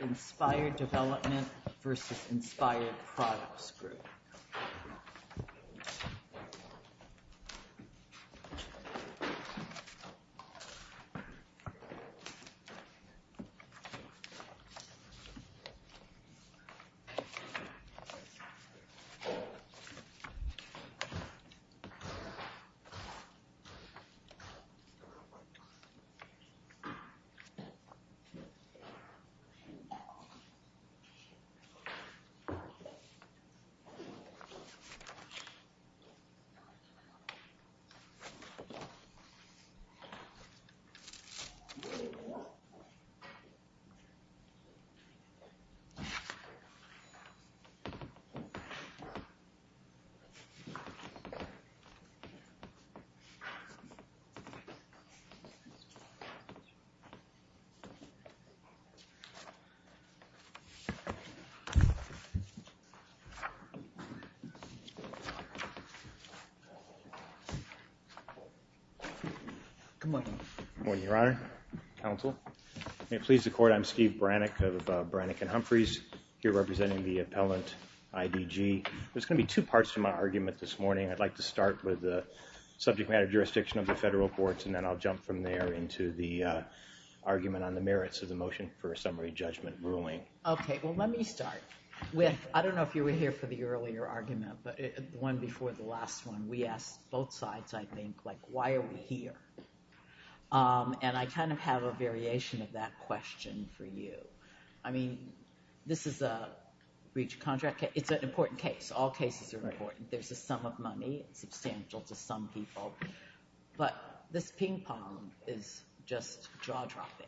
Inspired Development v. Inspired Products Group v. Inspired Products Group Good morning, your honor, counsel. May it please the court, I'm Steve Brannick of Brannick & Humphreys, here representing the appellant IDG. There's going to be two parts to my argument this morning. I'd like to start with the subject matter jurisdiction of the federal courts, and then I'll jump from there into the argument on the merits of the motion for a summary judgment ruling. Okay, well let me start with, I don't know if you were here for the earlier argument, but the one before the last one, we asked both sides, I think, like, why are we here? And I kind of have a variation of that question for you. I mean, this is a breach of contract case. It's an important case. All cases are important. There's a sum of money. It's substantial to some people. But this ping-pong is just jaw-dropping.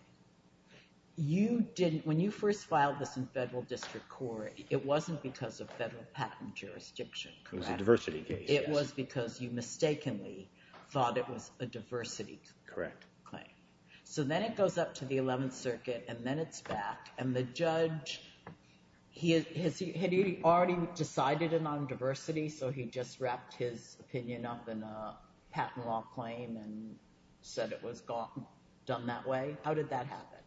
You didn't, when you first filed this in federal district court, it wasn't because of federal patent jurisdiction, correct? It was a diversity case. It was because you mistakenly thought it was a diversity claim. Correct. So then it goes up to the 11th Circuit, and then it's back, and the judge, had he already decided it on diversity, so he just wrapped his opinion up in a patent law claim and said it was done that way? How did that happen?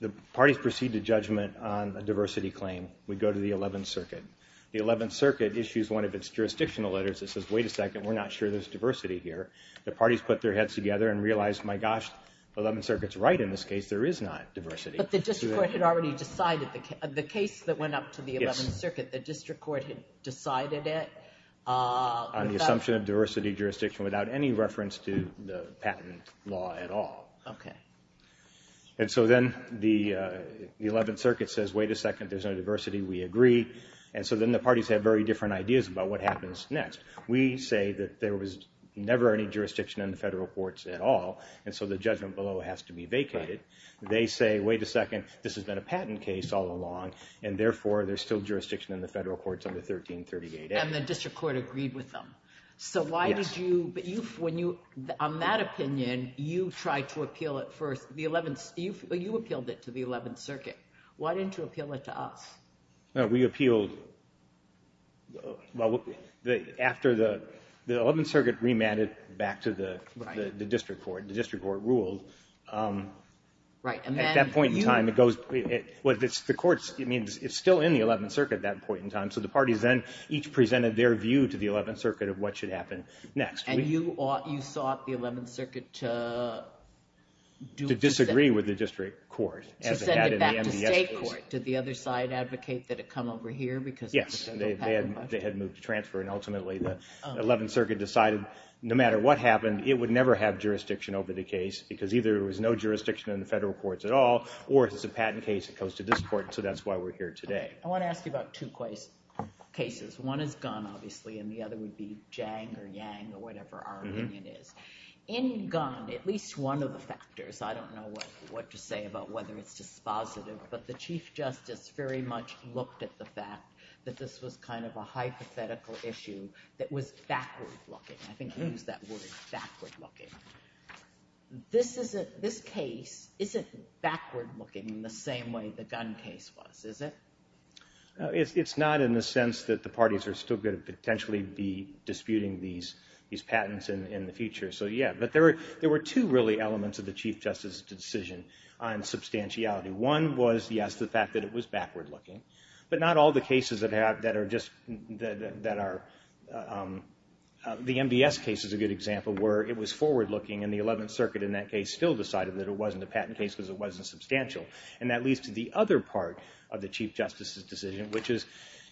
The parties proceed to judgment on a diversity claim. We go to the 11th Circuit. The 11th Circuit issues one of its jurisdictional letters that says, wait a second, we're not sure there's diversity here. The parties put their heads together and realized, my gosh, the 11th Circuit's right in this case, there is not diversity. But the district court had already decided, the case that went up to the 11th Circuit, the district court had decided it? On the assumption of diversity jurisdiction without any reference to the patent law at all. Okay. And so then the 11th Circuit says, wait a second, there's no diversity, we agree. And so then the parties have very different ideas about what happens next. We say that there was never any jurisdiction in the federal courts at all, and so the judgment below has to be vacated. They say, wait a second, this has been a patent case all along, and therefore there's still jurisdiction in the federal courts under 1338A. And the district court agreed with them. Yes. But on that opinion, you tried to appeal it first. You appealed it to the 11th Circuit. Why didn't you appeal it to us? No, we appealed after the 11th Circuit remanded back to the district court. The district court ruled. Right. At that point in time, it goes. It's still in the 11th Circuit at that point in time, so the parties then each presented their view to the 11th Circuit of what should happen next. And you sought the 11th Circuit to do. To disagree with the district court. To send it back to state court. Did the other side advocate that it come over here because. Yes, they had moved to transfer, and ultimately the 11th Circuit decided no matter what happened, it would never have jurisdiction over the case because either there was no jurisdiction in the federal courts at all, or it's a patent case that comes to this court, so that's why we're here today. I want to ask you about two cases. One is Gunn, obviously, and the other would be Jang or Yang or whatever our opinion is. In Gunn, at least one of the factors, I don't know what to say about whether it's dispositive, but the Chief Justice very much looked at the fact that this was kind of a hypothetical issue that was backward-looking. I think you used that word, backward-looking. This case isn't backward-looking in the same way the Gunn case was, is it? It's not in the sense that the parties are still going to potentially be disputing these patents in the future. So yeah, but there were two really elements of the Chief Justice's decision on substantiality. One was, yes, the fact that it was backward-looking. But not all the cases that are just – the MDS case is a good example where it was forward-looking, and the Eleventh Circuit in that case still decided that it wasn't a patent case because it wasn't substantial. And that leads to the other part of the Chief Justice's decision, which is,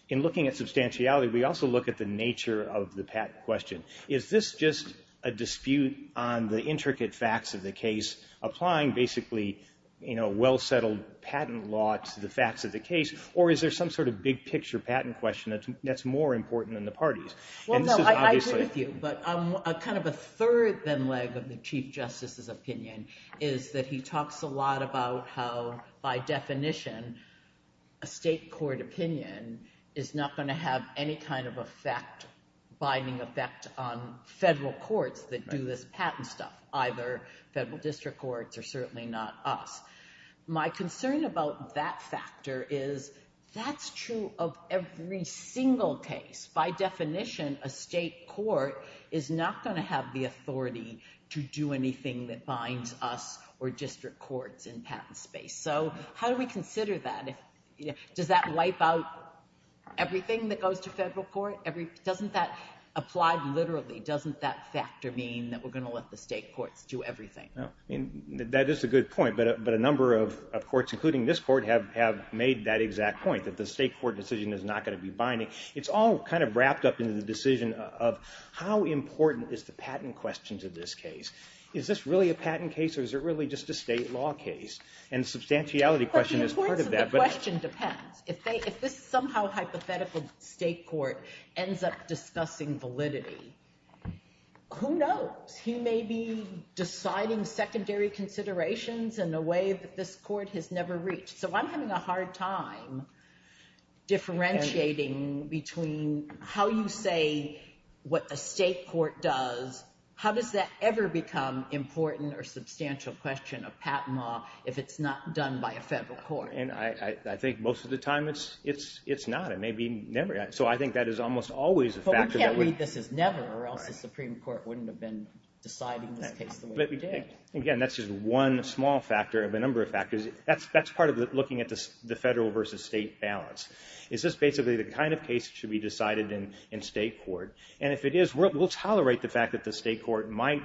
in looking at substantiality, we also look at the nature of the patent question. Is this just a dispute on the intricate facts of the case, applying basically well-settled patent law to the facts of the case, or is there some sort of big-picture patent question that's more important than the parties? Well, no, I agree with you. But kind of a third, then, leg of the Chief Justice's opinion is that he talks a lot about how, by definition, a state court opinion is not going to have any kind of binding effect on federal courts that do this patent stuff, either federal district courts or certainly not us. My concern about that factor is that's true of every single case. By definition, a state court is not going to have the authority to do anything that binds us or district courts in patent space. So how do we consider that? Does that wipe out everything that goes to federal court? Doesn't that apply literally? Doesn't that factor mean that we're going to let the state courts do everything? That is a good point, but a number of courts, including this court, have made that exact point, that the state court decision is not going to be binding. It's all kind of wrapped up in the decision of how important is the patent question to this case. Is this really a patent case, or is it really just a state law case? And the substantiality question is part of that. But the importance of the question depends. If this somehow hypothetical state court ends up discussing validity, who knows? He may be deciding secondary considerations in a way that this court has never reached. So I'm having a hard time differentiating between how you say what a state court does. How does that ever become important or substantial question of patent law if it's not done by a federal court? And I think most of the time it's not. It may be never. So I think that is almost always a factor. You can't read this as never, or else the Supreme Court wouldn't have been deciding this case the way it did. Again, that's just one small factor of a number of factors. That's part of looking at the federal versus state balance. Is this basically the kind of case that should be decided in state court? And if it is, we'll tolerate the fact that the state court might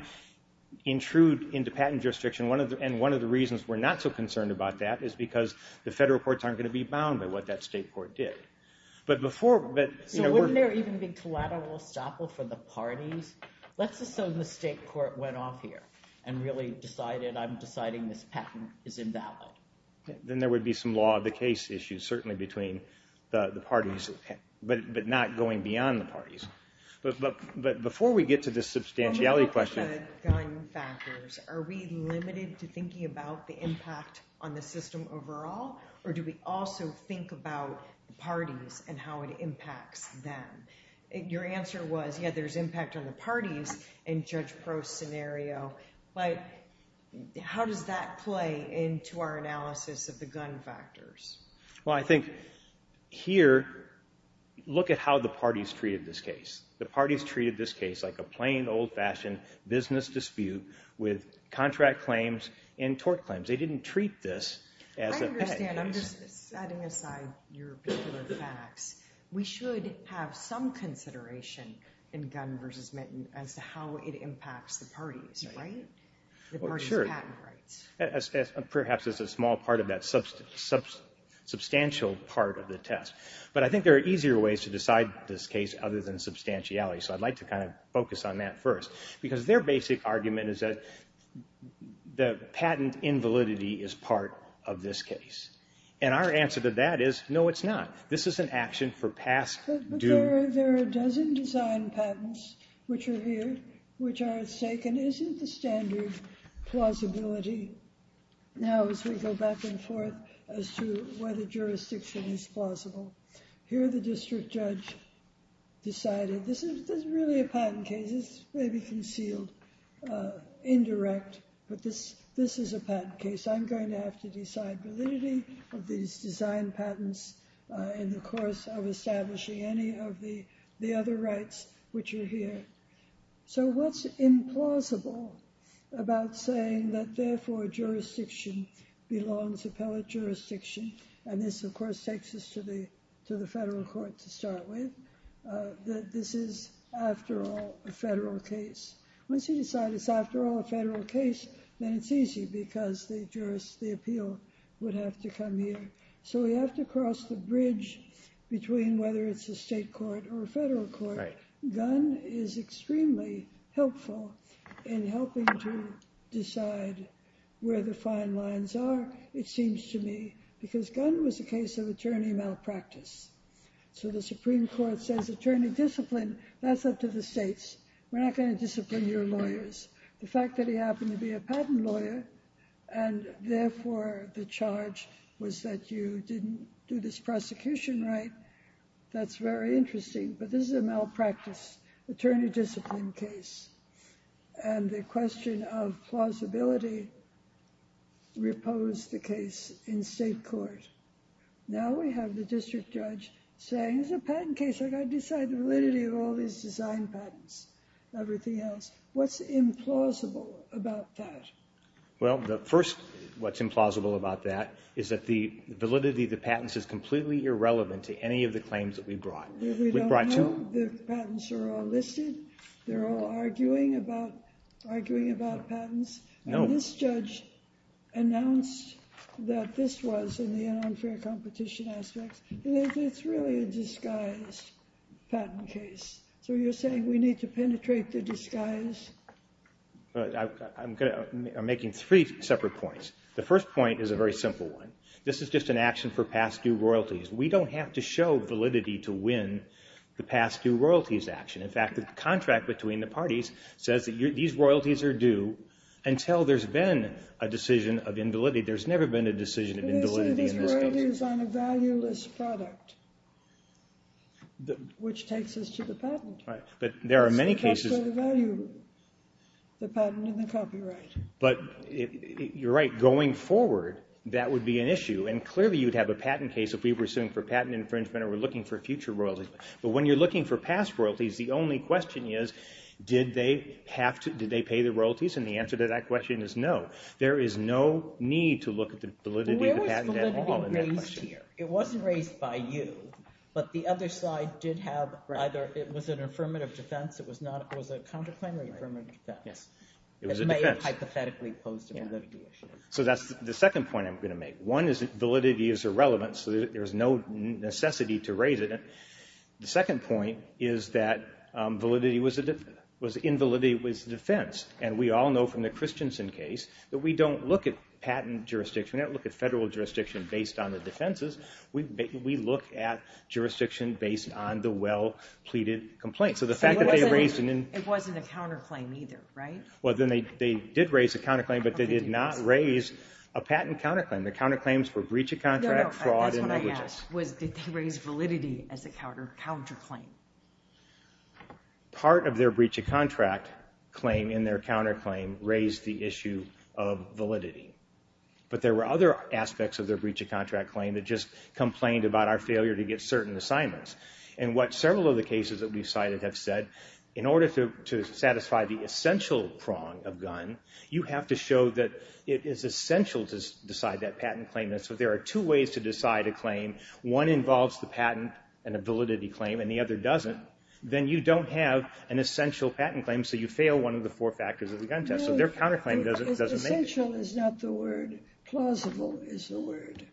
intrude into patent jurisdiction. And one of the reasons we're not so concerned about that is because the federal courts aren't going to be bound by what that state court did. So wouldn't there even be collateral estoppel for the parties? Let's assume the state court went off here and really decided, I'm deciding this patent is invalid. Then there would be some law of the case issues certainly between the parties, but not going beyond the parties. But before we get to the substantiality question. When we look at gun factors, are we limited to thinking about the impact on the system overall? Or do we also think about the parties and how it impacts them? Your answer was, yeah, there's impact on the parties and judge pro scenario. But how does that play into our analysis of the gun factors? Well, I think here, look at how the parties treated this case. The parties treated this case like a plain old-fashioned business dispute with contract claims and tort claims. They didn't treat this as a pet case. I understand. I'm just setting aside your particular facts. We should have some consideration in gun versus mitten as to how it impacts the parties, right? The parties' patent rights. Perhaps as a small part of that substantial part of the test. But I think there are easier ways to decide this case other than substantiality. So I'd like to kind of focus on that first. Because their basic argument is that the patent invalidity is part of this case. And our answer to that is, no, it's not. This is an action for past due. There are a dozen design patents which are here, which are at stake. And isn't the standard plausibility now as we go back and forth as to whether jurisdiction is plausible? Here the district judge decided this is really a patent case. It's maybe concealed, indirect. But this is a patent case. I'm going to have to decide validity of these design patents in the course of establishing any of the other rights which are here. So what's implausible about saying that, therefore, jurisdiction belongs to appellate jurisdiction? And this, of course, takes us to the federal court to start with. This is, after all, a federal case. Once you decide it's, after all, a federal case, then it's easy because the jurist, the appeal, would have to come here. So we have to cross the bridge between whether it's a state court or a federal court. Gunn is extremely helpful in helping to decide where the fine lines are, it seems to me, because Gunn was a case of attorney malpractice. So the Supreme Court says attorney discipline. That's up to the states. We're not going to discipline your lawyers. The fact that he happened to be a patent lawyer and, therefore, the charge was that you didn't do this prosecution right, that's very interesting. But this is a malpractice attorney discipline case. And the question of plausibility reposed the case in state court. Now we have the district judge saying, it's a patent case. I've got to decide the validity of all these design patents and everything else. What's implausible about that? Well, first, what's implausible about that is that the validity of the patents is completely irrelevant to any of the claims that we brought. We brought two. We don't know if the patents are all listed. They're all arguing about patents. And this judge announced that this was in the unfair competition aspects. It's really a disguised patent case. So you're saying we need to penetrate the disguise? I'm making three separate points. The first point is a very simple one. This is just an action for past due royalties. We don't have to show validity to win the past due royalties action. In fact, the contract between the parties says that these royalties are due until there's been a decision of invalidity. There's never been a decision of invalidity in this case. You're saying these royalties aren't a valueless product, which takes us to the patent. But there are many cases. That's where the value of the patent and the copyright. But you're right. Going forward, that would be an issue. And clearly, you'd have a patent case if we were suing for patent infringement or we're looking for future royalties. But when you're looking for past royalties, the only question is, did they pay the royalties? And the answer to that question is no. There is no need to look at the validity of the patent at all in that question. Where was validity raised here? It wasn't raised by you. But the other side did have either it was an affirmative defense. It was a counterclaim or affirmative defense. It was a defense. It may have hypothetically posed a validity issue. So that's the second point I'm going to make. One is that validity is irrelevant, so there's no necessity to raise it. The second point is that invalidity was a defense. And we all know from the Christensen case that we don't look at patent jurisdiction. We don't look at federal jurisdiction based on the defenses. We look at jurisdiction based on the well-pleaded complaint. So the fact that they raised it in— It wasn't a counterclaim either, right? Well, then they did raise a counterclaim, but they did not raise a patent counterclaim. The counterclaims were breach of contract, fraud, and negligence. No, no, that's what I asked was did they raise validity as a counterclaim? Part of their breach of contract claim in their counterclaim raised the issue of validity. But there were other aspects of their breach of contract claim that just complained about our failure to get certain assignments. And what several of the cases that we've cited have said, in order to satisfy the essential prong of gun, you have to show that it is essential to decide that patent claim. And so there are two ways to decide a claim. One involves the patent and a validity claim, and the other doesn't. Then you don't have an essential patent claim, so you fail one of the four factors of the gun test. So their counterclaim doesn't make it. No, essential is not the word. Plausible is the word.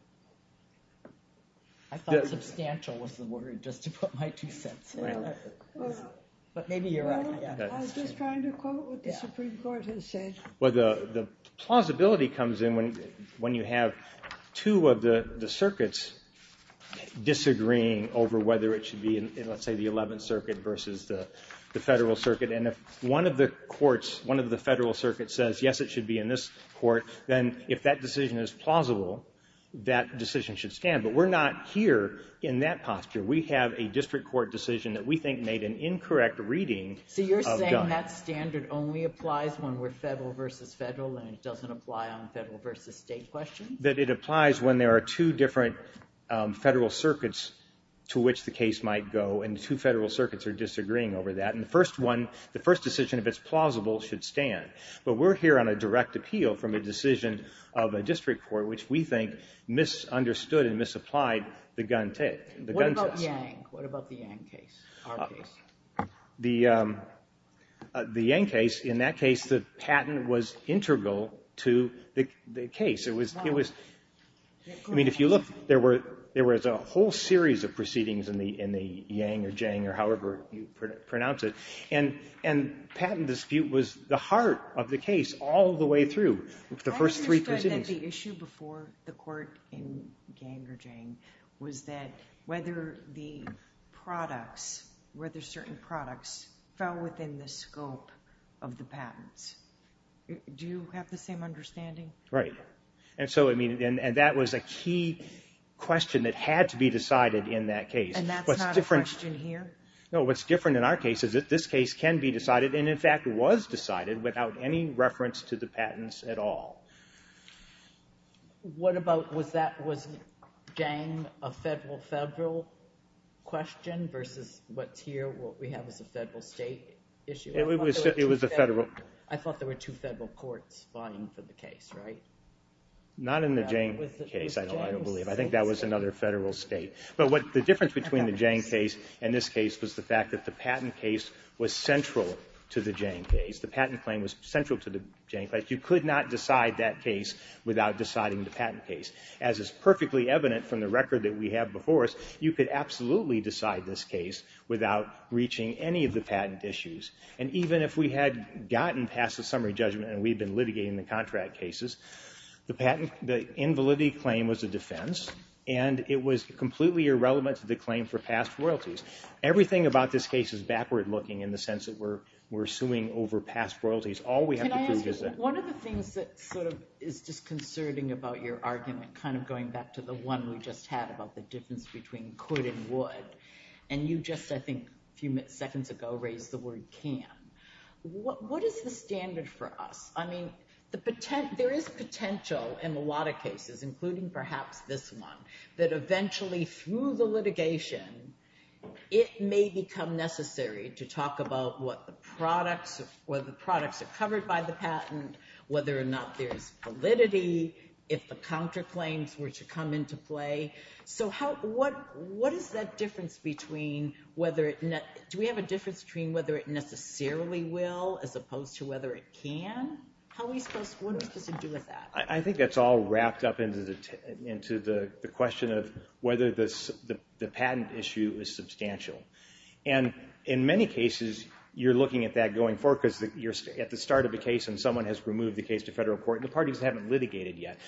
I thought substantial was the word, just to put my two cents in. But maybe you're right. I was just trying to quote what the Supreme Court has said. Well, the plausibility comes in when you have two of the circuits disagreeing over whether it should be in, let's say, the Eleventh Circuit versus the Federal Circuit. And if one of the courts, one of the Federal Circuits says, yes, it should be in this court, then if that decision is plausible, that decision should stand. But we're not here in that posture. We have a district court decision that we think made an incorrect reading of gun. So you're saying that standard only applies when we're federal versus federal and it doesn't apply on federal versus state questions? That it applies when there are two different federal circuits to which the case might go, and the two federal circuits are disagreeing over that. And the first one, the first decision, if it's plausible, should stand. But we're here on a direct appeal from a decision of a district court, which we think misunderstood and misapplied the gun test. What about Yang? What about the Yang case, our case? The Yang case, in that case, the patent was integral to the case. It was, I mean, if you look, there was a whole series of proceedings in the Yang or Jang or however you pronounce it. And patent dispute was the heart of the case all the way through, the first three proceedings. But the issue before the court in Yang or Jang was that whether the products, whether certain products fell within the scope of the patents. Do you have the same understanding? Right. And that was a key question that had to be decided in that case. And that's not a question here? No, what's different in our case is that this case can be decided and, in fact, was decided without any reference to the patents at all. What about was that, was Yang a federal-federal question versus what's here, what we have as a federal-state issue? It was a federal. I thought there were two federal courts vying for the case, right? Not in the Jang case, I don't believe. I think that was another federal state. But the difference between the Jang case and this case was the fact that the patent case was central to the Jang case. The patent claim was central to the Jang case. You could not decide that case without deciding the patent case. As is perfectly evident from the record that we have before us, you could absolutely decide this case without reaching any of the patent issues. And even if we had gotten past the summary judgment and we had been litigating the contract cases, the invalidity claim was a defense, and it was completely irrelevant to the claim for past royalties. Everything about this case is backward-looking in the sense that we're suing over past royalties. All we have to prove is that— Can I ask you, one of the things that sort of is disconcerting about your argument, kind of going back to the one we just had about the difference between could and would, and you just, I think, a few seconds ago raised the word can, what is the standard for us? I mean, there is potential in a lot of cases, including perhaps this one, that eventually through the litigation, it may become necessary to talk about whether the products are covered by the patent, whether or not there is validity, if the counterclaims were to come into play. So what is that difference between whether it— do we have a difference between whether it necessarily will as opposed to whether it can? How are we supposed—what does it do with that? I think that's all wrapped up into the question of whether the patent issue is substantial. And in many cases, you're looking at that going forward because you're at the start of the case and someone has removed the case to federal court and the parties haven't litigated yet.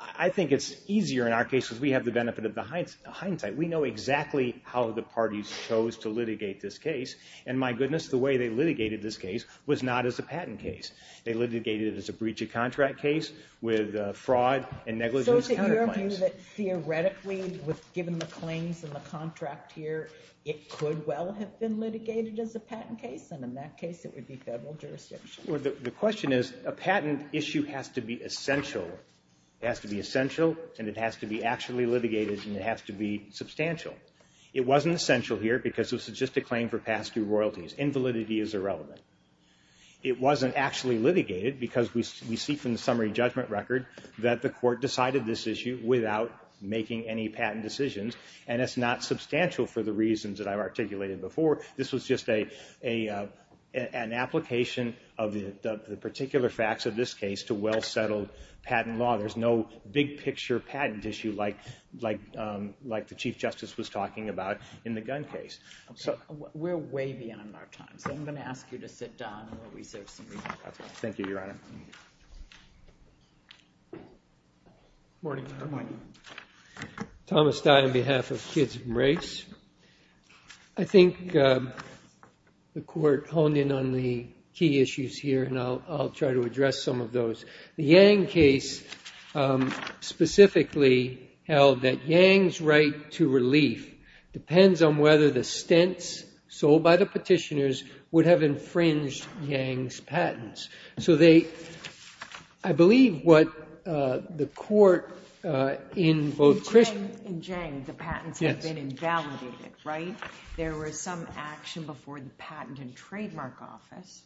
I think it's easier in our case because we have the benefit of the hindsight. We know exactly how the parties chose to litigate this case, and my goodness, the way they litigated this case was not as a patent case. They litigated it as a breach of contract case with fraud and negligence counterclaims. So is it your view that theoretically, given the claims and the contract here, it could well have been litigated as a patent case, and in that case it would be federal jurisdiction? Well, the question is a patent issue has to be essential. It has to be essential and it has to be actually litigated and it has to be substantial. It wasn't essential here because it was just a claim for past due royalties. Invalidity is irrelevant. It wasn't actually litigated because we see from the summary judgment record that the court decided this issue without making any patent decisions, and it's not substantial for the reasons that I've articulated before. This was just an application of the particular facts of this case to well-settled patent law. There's no big-picture patent issue like the Chief Justice was talking about in the gun case. We're way beyond our time, so I'm going to ask you to sit down and we'll reserve some time. Thank you, Your Honor. Thomas Dye on behalf of Kids from Race. I think the court honed in on the key issues here, and I'll try to address some of those. The Yang case specifically held that Yang's right to relief depends on whether the stents sold by the petitioners would have infringed Yang's patents. So they—I believe what the court in both— In Jiang, the patents have been invalidated, right? There was some action before the Patent and Trademark Office,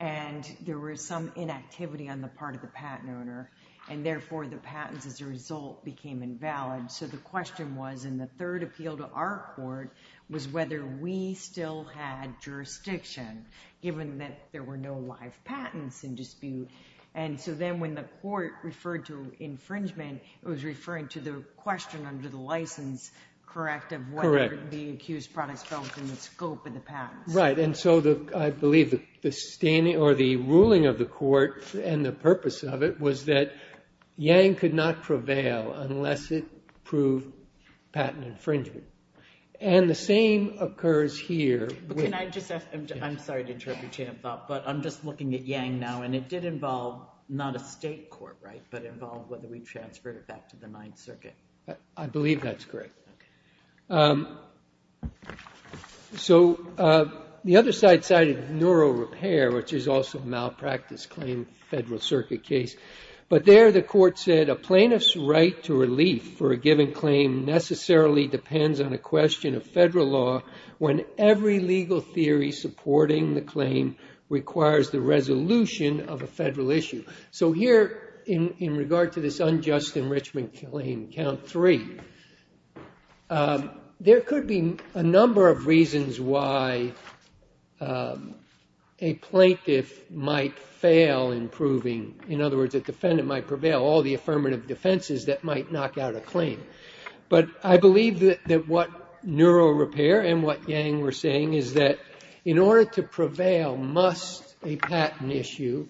and there was some inactivity on the part of the patent owner, and therefore the patents, as a result, became invalid. So the question was, in the third appeal to our court, was whether we still had jurisdiction, given that there were no live patents in dispute. And so then when the court referred to infringement, it was referring to the question under the license, correct, of whether the accused products fell within the scope of the patents. Right, and so I believe the ruling of the court and the purpose of it was that Yang could not prevail unless it proved patent infringement. And the same occurs here. Can I just ask—I'm sorry to interrupt your thought, but I'm just looking at Yang now, and it did involve not a state court, right, but involved whether we transferred it back to the Ninth Circuit. I believe that's correct. So the other side cited neurorepair, which is also a malpractice claim in the Federal Circuit case. But there the court said, a plaintiff's right to relief for a given claim necessarily depends on a question of federal law when every legal theory supporting the claim requires the resolution of a federal issue. So here, in regard to this unjust enrichment claim, count three, there could be a number of reasons why a plaintiff might fail in proving— in other words, a defendant might prevail, all the affirmative defenses that might knock out a claim. But I believe that what neurorepair and what Yang were saying is that in order to prevail must a patent issue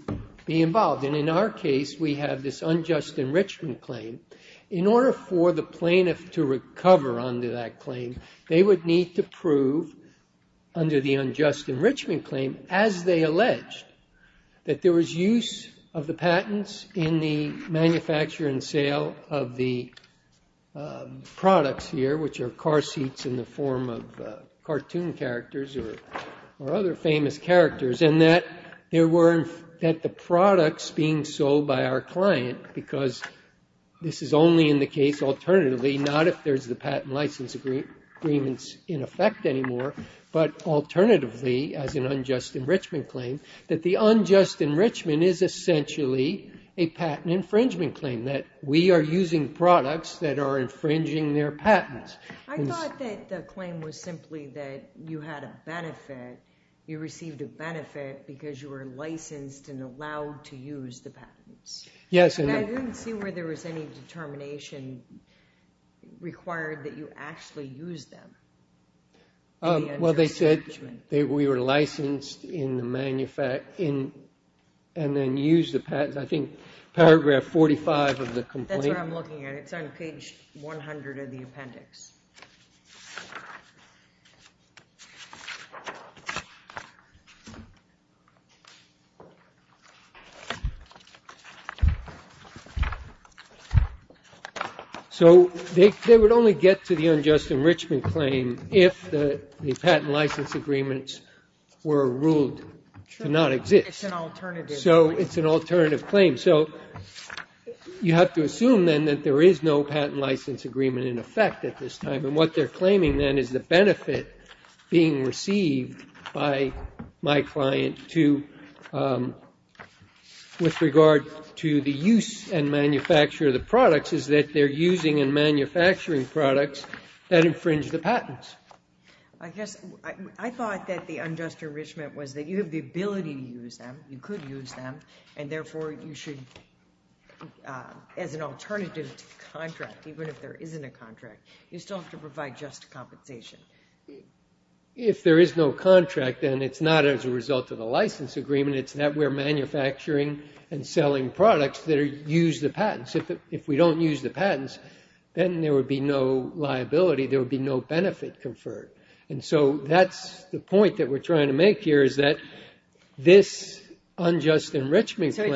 be involved. And in our case, we have this unjust enrichment claim. In order for the plaintiff to recover under that claim, they would need to prove under the unjust enrichment claim, as they alleged, that there was use of the patents in the manufacture and sale of the products here, which are car seats in the form of cartoon characters or other famous characters, and that the products being sold by our client, because this is only in the case, alternatively, not if there's the patent license agreements in effect anymore, but alternatively, as an unjust enrichment claim, that the unjust enrichment is essentially a patent infringement claim, that we are using products that are infringing their patents. I thought that the claim was simply that you had a benefit. You received a benefit because you were licensed and allowed to use the patents. Yes. And I didn't see where there was any determination required that you actually use them. Well, they said we were licensed in the manufacture and then used the patents. I think paragraph 45 of the complaint. That's what I'm looking at. It's on page 100 of the appendix. So they would only get to the unjust enrichment claim if the patent license agreements were ruled to not exist. It's an alternative. So it's an alternative claim. So you have to assume, then, that there is no patent license agreement in effect at this time. And what they're claiming, then, is the benefit being received by my client with regard to the use and manufacture of the products is that they're using and manufacturing products that infringe the patents. I guess I thought that the unjust enrichment was that you have the ability to use them. You could use them. And, therefore, you should, as an alternative to the contract, even if there isn't a contract, you still have to provide just compensation. If there is no contract, then it's not as a result of the license agreement. It's that we're manufacturing and selling products that use the patents. If we don't use the patents, then there would be no liability. There would be no benefit conferred. And so that's the point that we're trying to make here is that this unjust enrichment claim—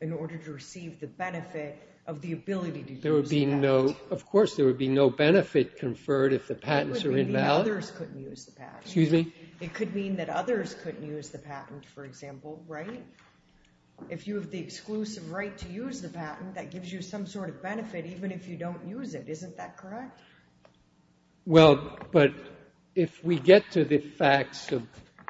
in order to receive the benefit of the ability to use the patent. There would be no—of course there would be no benefit conferred if the patents are invalid. It would mean that others couldn't use the patent. Excuse me? It could mean that others couldn't use the patent, for example, right? If you have the exclusive right to use the patent, that gives you some sort of benefit even if you don't use it. Isn't that correct? Well, but if we get to the facts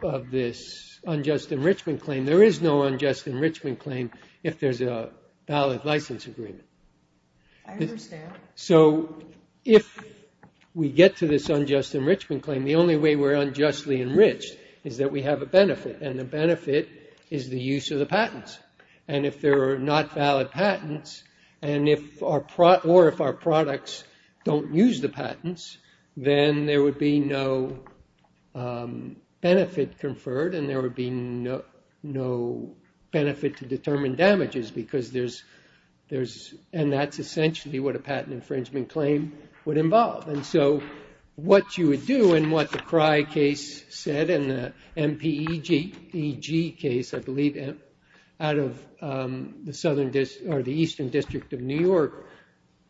of this unjust enrichment claim, there is no unjust enrichment claim if there's a valid license agreement. I understand. So if we get to this unjust enrichment claim, the only way we're unjustly enriched is that we have a benefit. And the benefit is the use of the patents. And if there are not valid patents or if our products don't use the patents, then there would be no benefit conferred and there would be no benefit to determine damages because there's—and that's essentially what a patent infringement claim would involve. And so what you would do and what the Crye case said and the MPEG case, I believe, out of the Southern District— or the Eastern District of New York,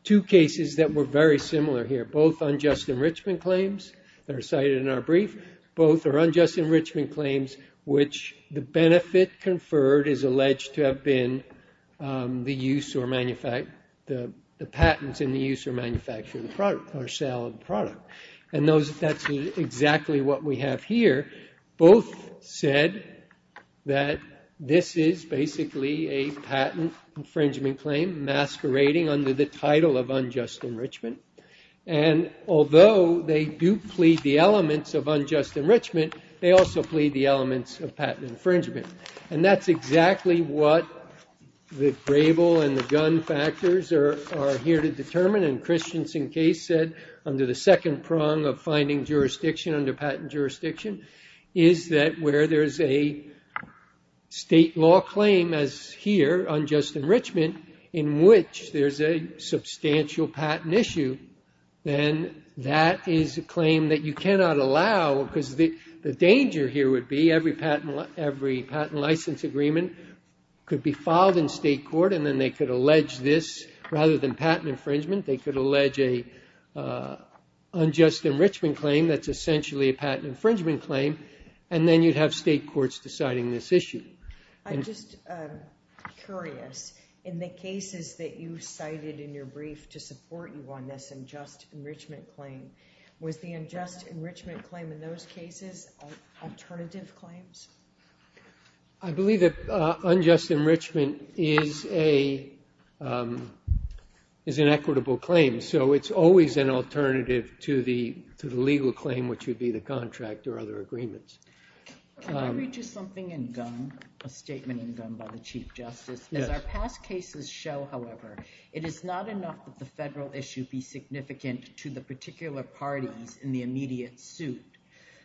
two cases that were very similar here, both unjust enrichment claims that are cited in our brief, both are unjust enrichment claims which the benefit conferred is alleged to have been the use or manufacture— the patents in the use or manufacture of the product or sale of the product. And that's exactly what we have here. Both said that this is basically a patent infringement claim masquerading under the title of unjust enrichment. And although they do plead the elements of unjust enrichment, they also plead the elements of patent infringement. And that's exactly what the grable and the gun factors are here to determine. And Christiansen case said under the second prong of finding jurisdiction under patent jurisdiction is that where there's a state law claim as here, unjust enrichment, in which there's a substantial patent issue, then that is a claim that you cannot allow because the danger here would be every patent license agreement could be filed in state court and then they could allege this. Rather than patent infringement, they could allege an unjust enrichment claim that's essentially a patent infringement claim, and then you'd have state courts deciding this issue. I'm just curious. In the cases that you cited in your brief to support you on this unjust enrichment claim, was the unjust enrichment claim in those cases alternative claims? I believe that unjust enrichment is an equitable claim. So it's always an alternative to the legal claim, which would be the contract or other agreements. Can I read you something in Gunn, a statement in Gunn by the Chief Justice? As our past cases show, however, it is not enough that the federal issue be significant to the particular parties in the immediate suit.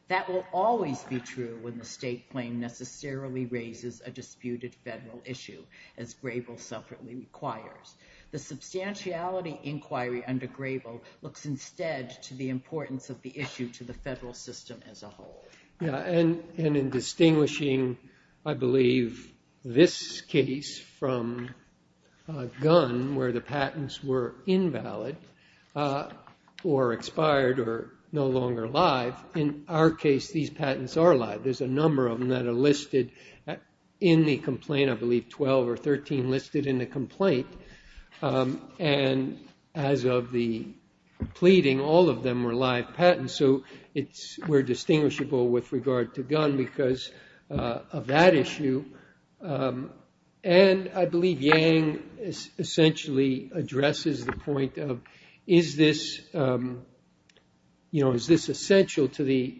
That will always be true when the state claim necessarily raises a disputed federal issue, as Grable separately requires. The substantiality inquiry under Grable looks instead to the importance of the issue to the federal system as a whole. And in distinguishing, I believe, this case from Gunn, where the patents were invalid or expired or no longer live, in our case, these patents are live. There's a number of them that are listed in the complaint, I believe 12 or 13 listed in the complaint. And as of the pleading, all of them were live patents, so we're distinguishable with regard to Gunn because of that issue. And I believe Yang essentially addresses the point of, is this essential to the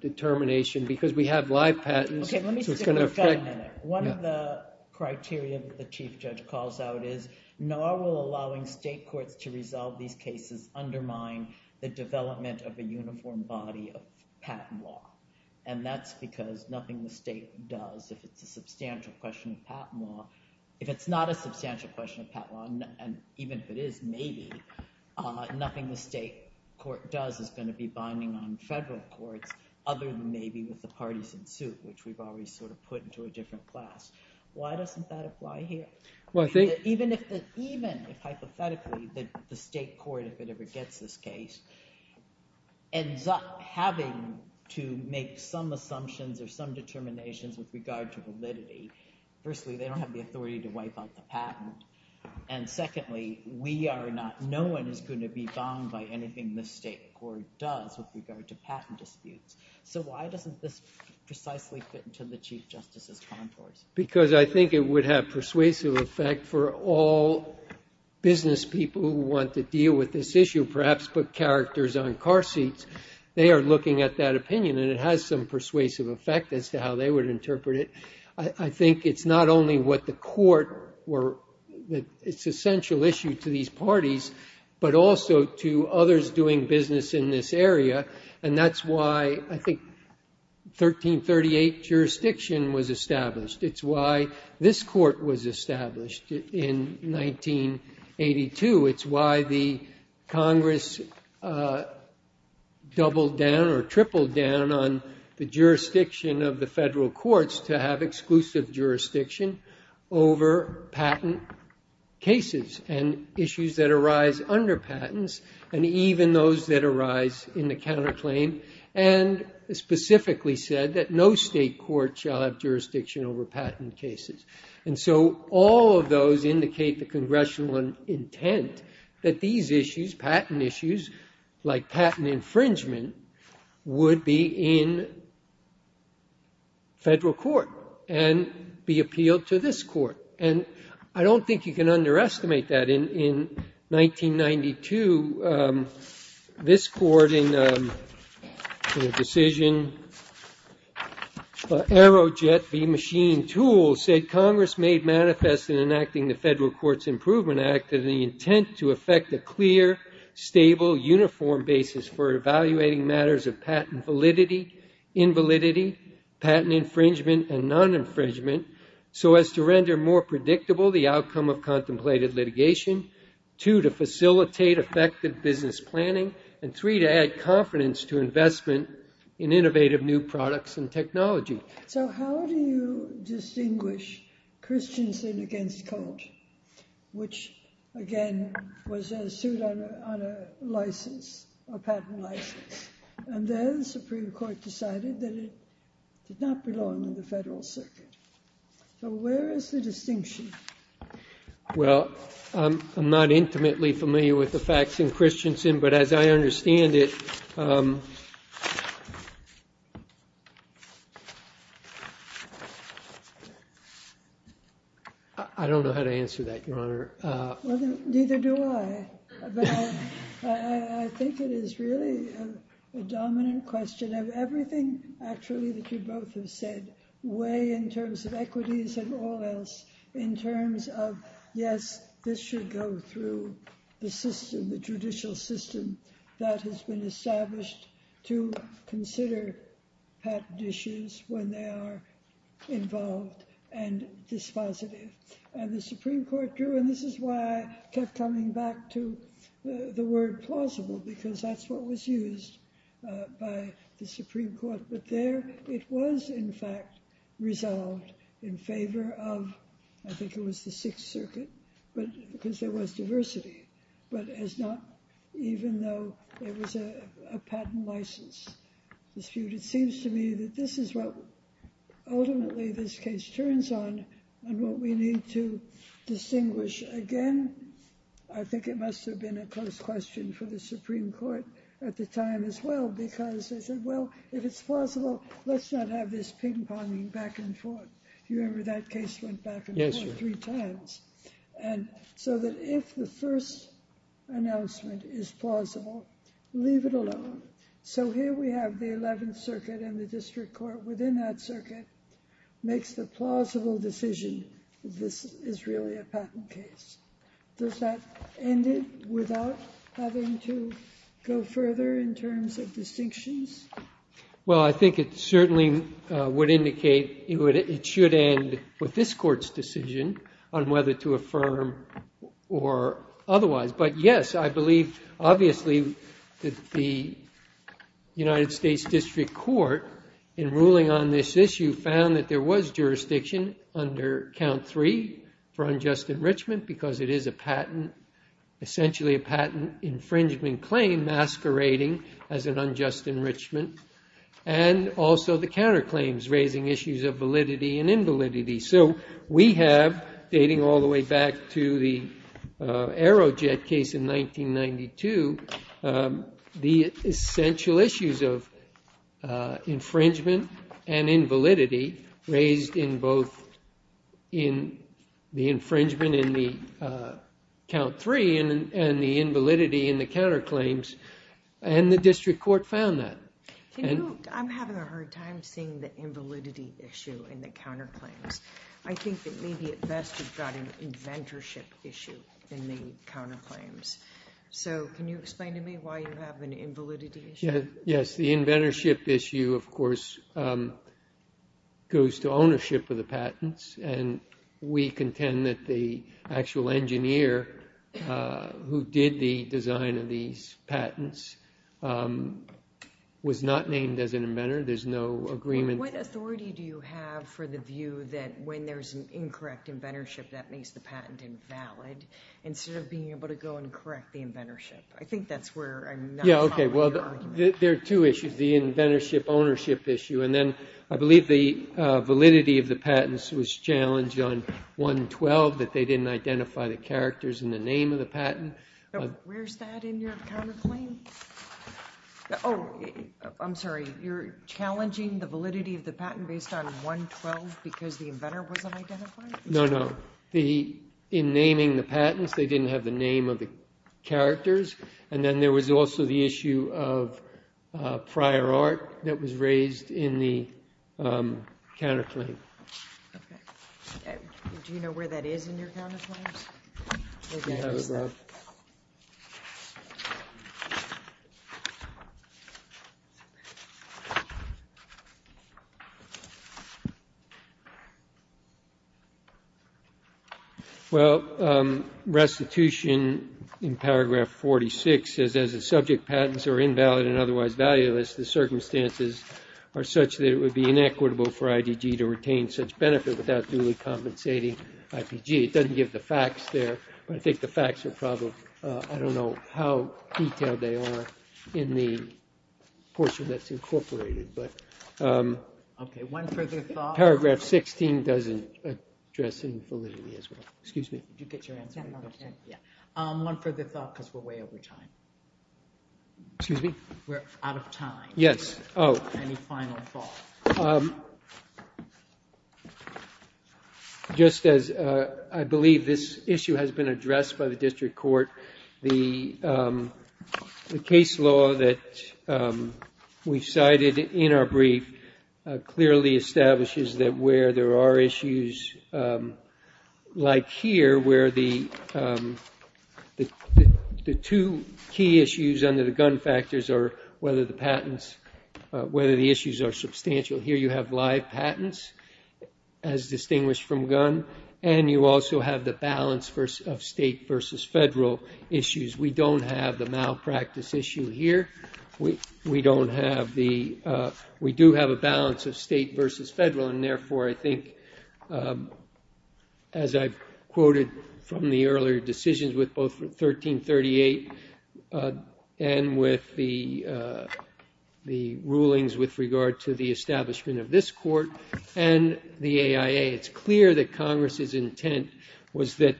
determination? Because we have live patents, so it's going to affect... Okay, let me stick with that a minute. One of the criteria that the Chief Judge calls out is, nor will allowing state courts to resolve these cases undermine the development of a uniform body of patent law. And that's because nothing the state does, if it's a substantial question of patent law, if it's not a substantial question of patent law, and even if it is, maybe, nothing the state court does is going to be binding on federal courts other than maybe with the partisan suit, which we've already sort of put into a different class. Why doesn't that apply here? Even if, hypothetically, the state court, if it ever gets this case, ends up having to make some assumptions or some determinations with regard to validity. Firstly, they don't have the authority to wipe out the patent. And secondly, no one is going to be bound by anything the state court does with regard to patent disputes. So why doesn't this precisely fit into the Chief Justice's contours? Because I think it would have persuasive effect for all business people who want to deal with this issue, perhaps put characters on car seats. They are looking at that opinion, and it has some persuasive effect as to how they would interpret it. I think it's not only what the court were... It's an essential issue to these parties, but also to others doing business in this area, and that's why I think 1338 jurisdiction was established. It's why this court was established in 1982. It's why the Congress doubled down or tripled down on the jurisdiction of the federal courts to have exclusive jurisdiction over patent cases and issues that arise under patents, and even those that arise in the counterclaim, and specifically said that no state court shall have jurisdiction over patent cases. And so all of those indicate the congressional intent that these issues, patent issues, like patent infringement, would be in federal court and be appealed to this court. And I don't think you can underestimate that. In 1992, this court in a decision, Aerojet v. Machine Tools, said Congress made manifest in enacting the Federal Courts Improvement Act the intent to effect a clear, stable, uniform basis for evaluating matters of patent validity, invalidity, patent infringement, and non-infringement so as to render more predictable the outcome of contemplated litigation, two, to facilitate effective business planning, and three, to add confidence to investment in innovative new products and technology. So how do you distinguish Christiansen against Colt, which, again, was sued on a license, a patent license, and then the Supreme Court decided that it did not belong in the federal circuit? So where is the distinction? Well, I'm not intimately familiar with the facts in Christiansen, but as I understand it... I don't know how to answer that, Your Honor. Well, neither do I. But I think it is really a dominant question of everything, actually, that you both have said weigh in terms of equities and all else in terms of, yes, this should go through the system, the judicial system that has been established to consider patent issues when they are involved and dispositive. And the Supreme Court drew, and this is why I kept coming back to the word plausible because that's what was used by the Supreme Court. But there it was, in fact, resolved in favor of, I think it was the Sixth Circuit, because there was diversity, but even though there was a patent license dispute, it seems to me that this is what, ultimately, this case turns on and what we need to distinguish. Again, I think it must have been a close question for the Supreme Court at the time as well because they said, well, if it's plausible, let's not have this ping-ponging back and forth. Do you remember that case went back and forth three times? And so that if the first announcement is plausible, leave it alone. So here we have the Eleventh Circuit and the district court within that circuit makes the plausible decision that this is really a patent case. Does that end it without having to go further in terms of distinctions? Well, I think it certainly would indicate it should end with this court's decision on whether to affirm or otherwise. But yes, I believe, obviously, that the United States District Court in ruling on this issue found that there was jurisdiction under Count 3 for unjust enrichment because it is essentially a patent infringement claim masquerading as an unjust enrichment and also the counterclaims raising issues of validity and invalidity. So we have, dating all the way back to the Aerojet case in 1992, the essential issues of infringement and invalidity raised in both the infringement in the Count 3 and the invalidity in the counterclaims and the district court found that. I'm having a hard time seeing the invalidity issue in the counterclaims. I think that maybe at best you've got an inventorship issue in the counterclaims. So can you explain to me why you have an invalidity issue? Yes, the inventorship issue, of course, goes to ownership of the patents and we contend that the actual engineer who did the design of these patents was not named as an inventor. There's no agreement. What authority do you have for the view that when there's an incorrect inventorship that makes the patent invalid instead of being able to go and correct the inventorship? I think that's where I'm not following the argument. Yeah, okay, well, there are two issues, the inventorship ownership issue and then I believe the validity of the patents was challenged on 112, that they didn't identify the characters in the name of the patent. Where's that in your counterclaim? Oh, I'm sorry, you're challenging the validity of the patent based on 112 because the inventor wasn't identified? No, no, in naming the patents they didn't have the name of the characters and then there was also the issue of prior art that was raised in the counterclaim. Okay. Do you know where that is in your counterclaims? I don't have it, Rob. Well, restitution in paragraph 46 says as the subject patents are invalid and otherwise valueless the circumstances are such that it would be inequitable for IDG to retain such benefit without duly compensating IPG. It doesn't give the facts there, but I think the facts are probably, I don't know how detailed they are in the portion that's incorporated, but... Okay, one further thought. Paragraph 16 doesn't address infallibility as well. Excuse me. Did you get your answer? Yeah, yeah. One further thought because we're way over time. Excuse me? We're out of time. Yes. Any final thoughts? Just as I believe this issue has been addressed by the district court, the case law that we cited in our brief clearly establishes that where there are issues like here where the two key issues under the gun factors are whether the issues are substantial. Here you have live patents as distinguished from gun and you also have the balance of state versus federal issues. We don't have the malpractice issue here. We do have a balance of state versus federal and therefore I think as I quoted from the earlier decisions with both 1338 and with the rulings with regard to the establishment of this court and the AIA, it's clear that Congress's intent was that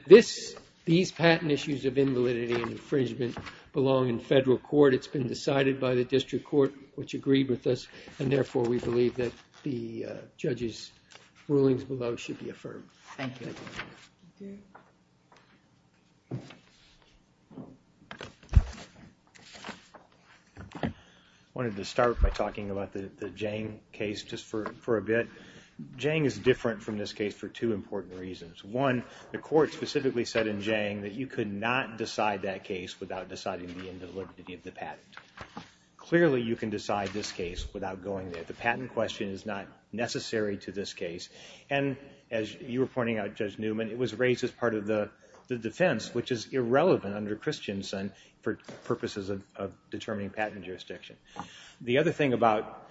these patent issues of invalidity and infringement belong in federal court. It's been decided by the district court, which agreed with us, and therefore we believe that the judge's rulings below should be affirmed. Thank you. I wanted to start by talking about the Jang case just for a bit. Jang is different from this case for two important reasons. One, the court specifically said in Jang that you could not decide that case without deciding the invalidity of the patent. Clearly you can decide this case without going there. The patent question is not necessary to this case and as you were pointing out, Judge Newman, it was raised as part of the defense, which is irrelevant under Christiansen for purposes of determining patent jurisdiction. The other thing about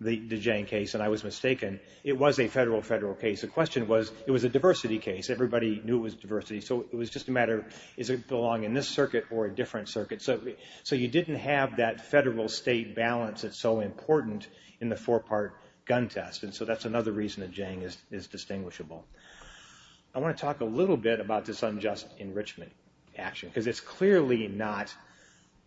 the Jang case, and I was mistaken, it was a federal-federal case. The question was it was a diversity case. Everybody knew it was diversity, so it was just a matter of does it belong in this circuit or a different circuit. So you didn't have that federal-state balance that's so important in the four-part gun test, and so that's another reason that Jang is distinguishable. I want to talk a little bit about this unjust enrichment action because it's clearly not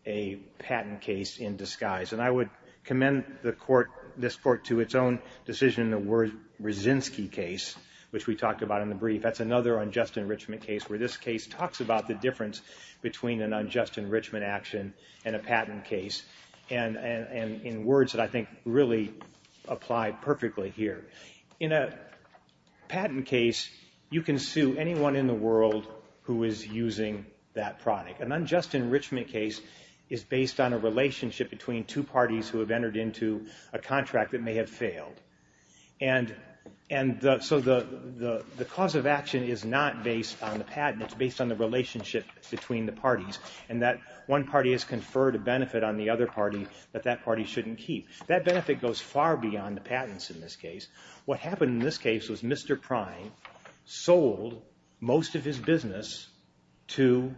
a patent case in disguise, and I would commend the court, this court, to its own decision in the Wyrzynski case, which we talked about in the brief. That's another unjust enrichment case where this case talks about the difference between an unjust enrichment action and a patent case, and in words that I think really apply perfectly here. In a patent case, you can sue anyone in the world who is using that product. An unjust enrichment case is based on a relationship between two parties who have entered into a contract that may have failed, and so the cause of action is not based on the patent. It's based on the relationship between the parties, and that one party has conferred a benefit on the other party that that party shouldn't keep. That benefit goes far beyond the patents in this case. What happened in this case was Mr. Pryne sold most of his business to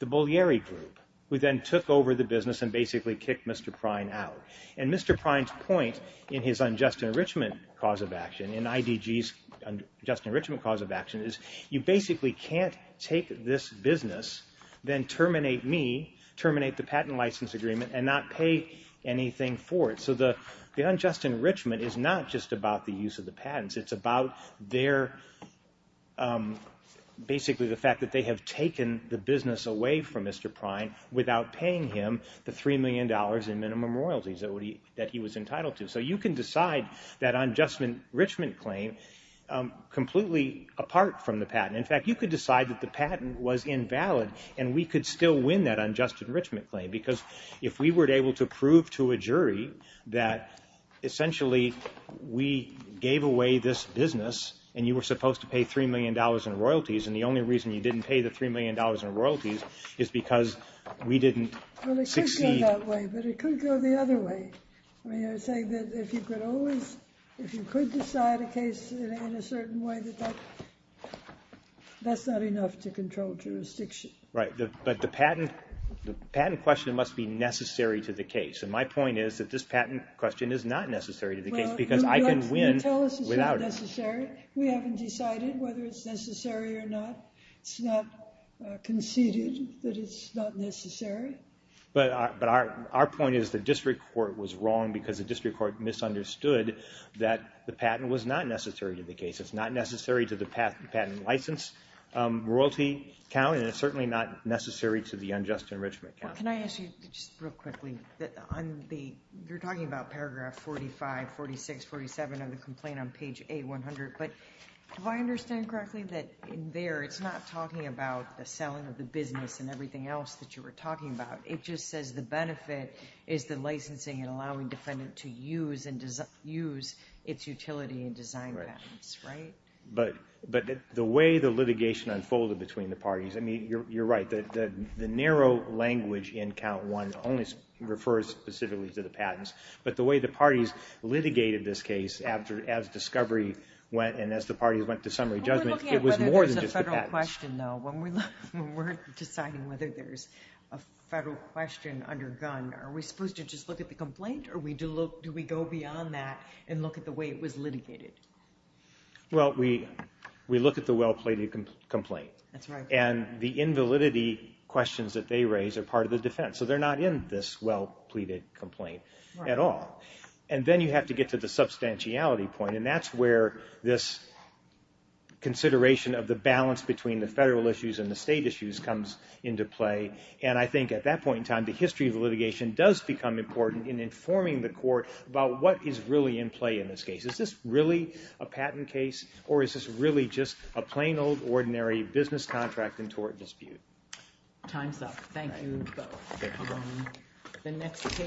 the Bulgari group, who then took over the business and basically kicked Mr. Pryne out, and Mr. Pryne's point in his unjust enrichment cause of action, in IDG's unjust enrichment cause of action, is you basically can't take this business, then terminate me, terminate the patent license agreement, and not pay anything for it. So the unjust enrichment is not just about the use of the patents. It's about basically the fact that they have taken the business away from Mr. Pryne without paying him the $3 million in minimum royalties that he was entitled to. So you can decide that unjust enrichment claim completely apart from the patent. In fact, you could decide that the patent was invalid, and we could still win that unjust enrichment claim because if we were able to prove to a jury that essentially we gave away this business, and you were supposed to pay $3 million in royalties, and the only reason you didn't pay the $3 million in royalties is because we didn't succeed. It could go that way, but it could go the other way. You're saying that if you could decide a case in a certain way, that's not enough to control jurisdiction. Right, but the patent question must be necessary to the case, and my point is that this patent question is not necessary to the case because I can win without it. You tell us it's not necessary. We haven't decided whether it's necessary or not. It's not conceded that it's not necessary. But our point is the district court was wrong because the district court misunderstood that the patent was not necessary to the case. It's not necessary to the patent license royalty count, and it's certainly not necessary to the unjust enrichment count. Can I ask you just real quickly, you're talking about paragraph 45, 46, 47 of the complaint on page A100, but if I understand correctly, there it's not talking about the selling of the business and everything else that you were talking about. It just says the benefit is the licensing and allowing defendant to use its utility and design patents, right? But the way the litigation unfolded between the parties, you're right, the narrow language in count one only refers specifically to the patents, but the way the parties litigated this case as discovery went it was more than just the patents. I have a question though. When we're deciding whether there's a federal question undergone, are we supposed to just look at the complaint or do we go beyond that and look at the way it was litigated? Well, we look at the well-pleaded complaint. That's right. And the invalidity questions that they raise are part of the defense, so they're not in this well-pleaded complaint at all. And then you have to get to the substantiality point, and that's where this consideration of the balance between the federal issues and the state issues comes into play. And I think at that point in time, the history of the litigation does become important in informing the court about what is really in play in this case. Is this really a patent case, or is this really just a plain old ordinary business contract and tort dispute? Time's up. Thank you both. Thank you.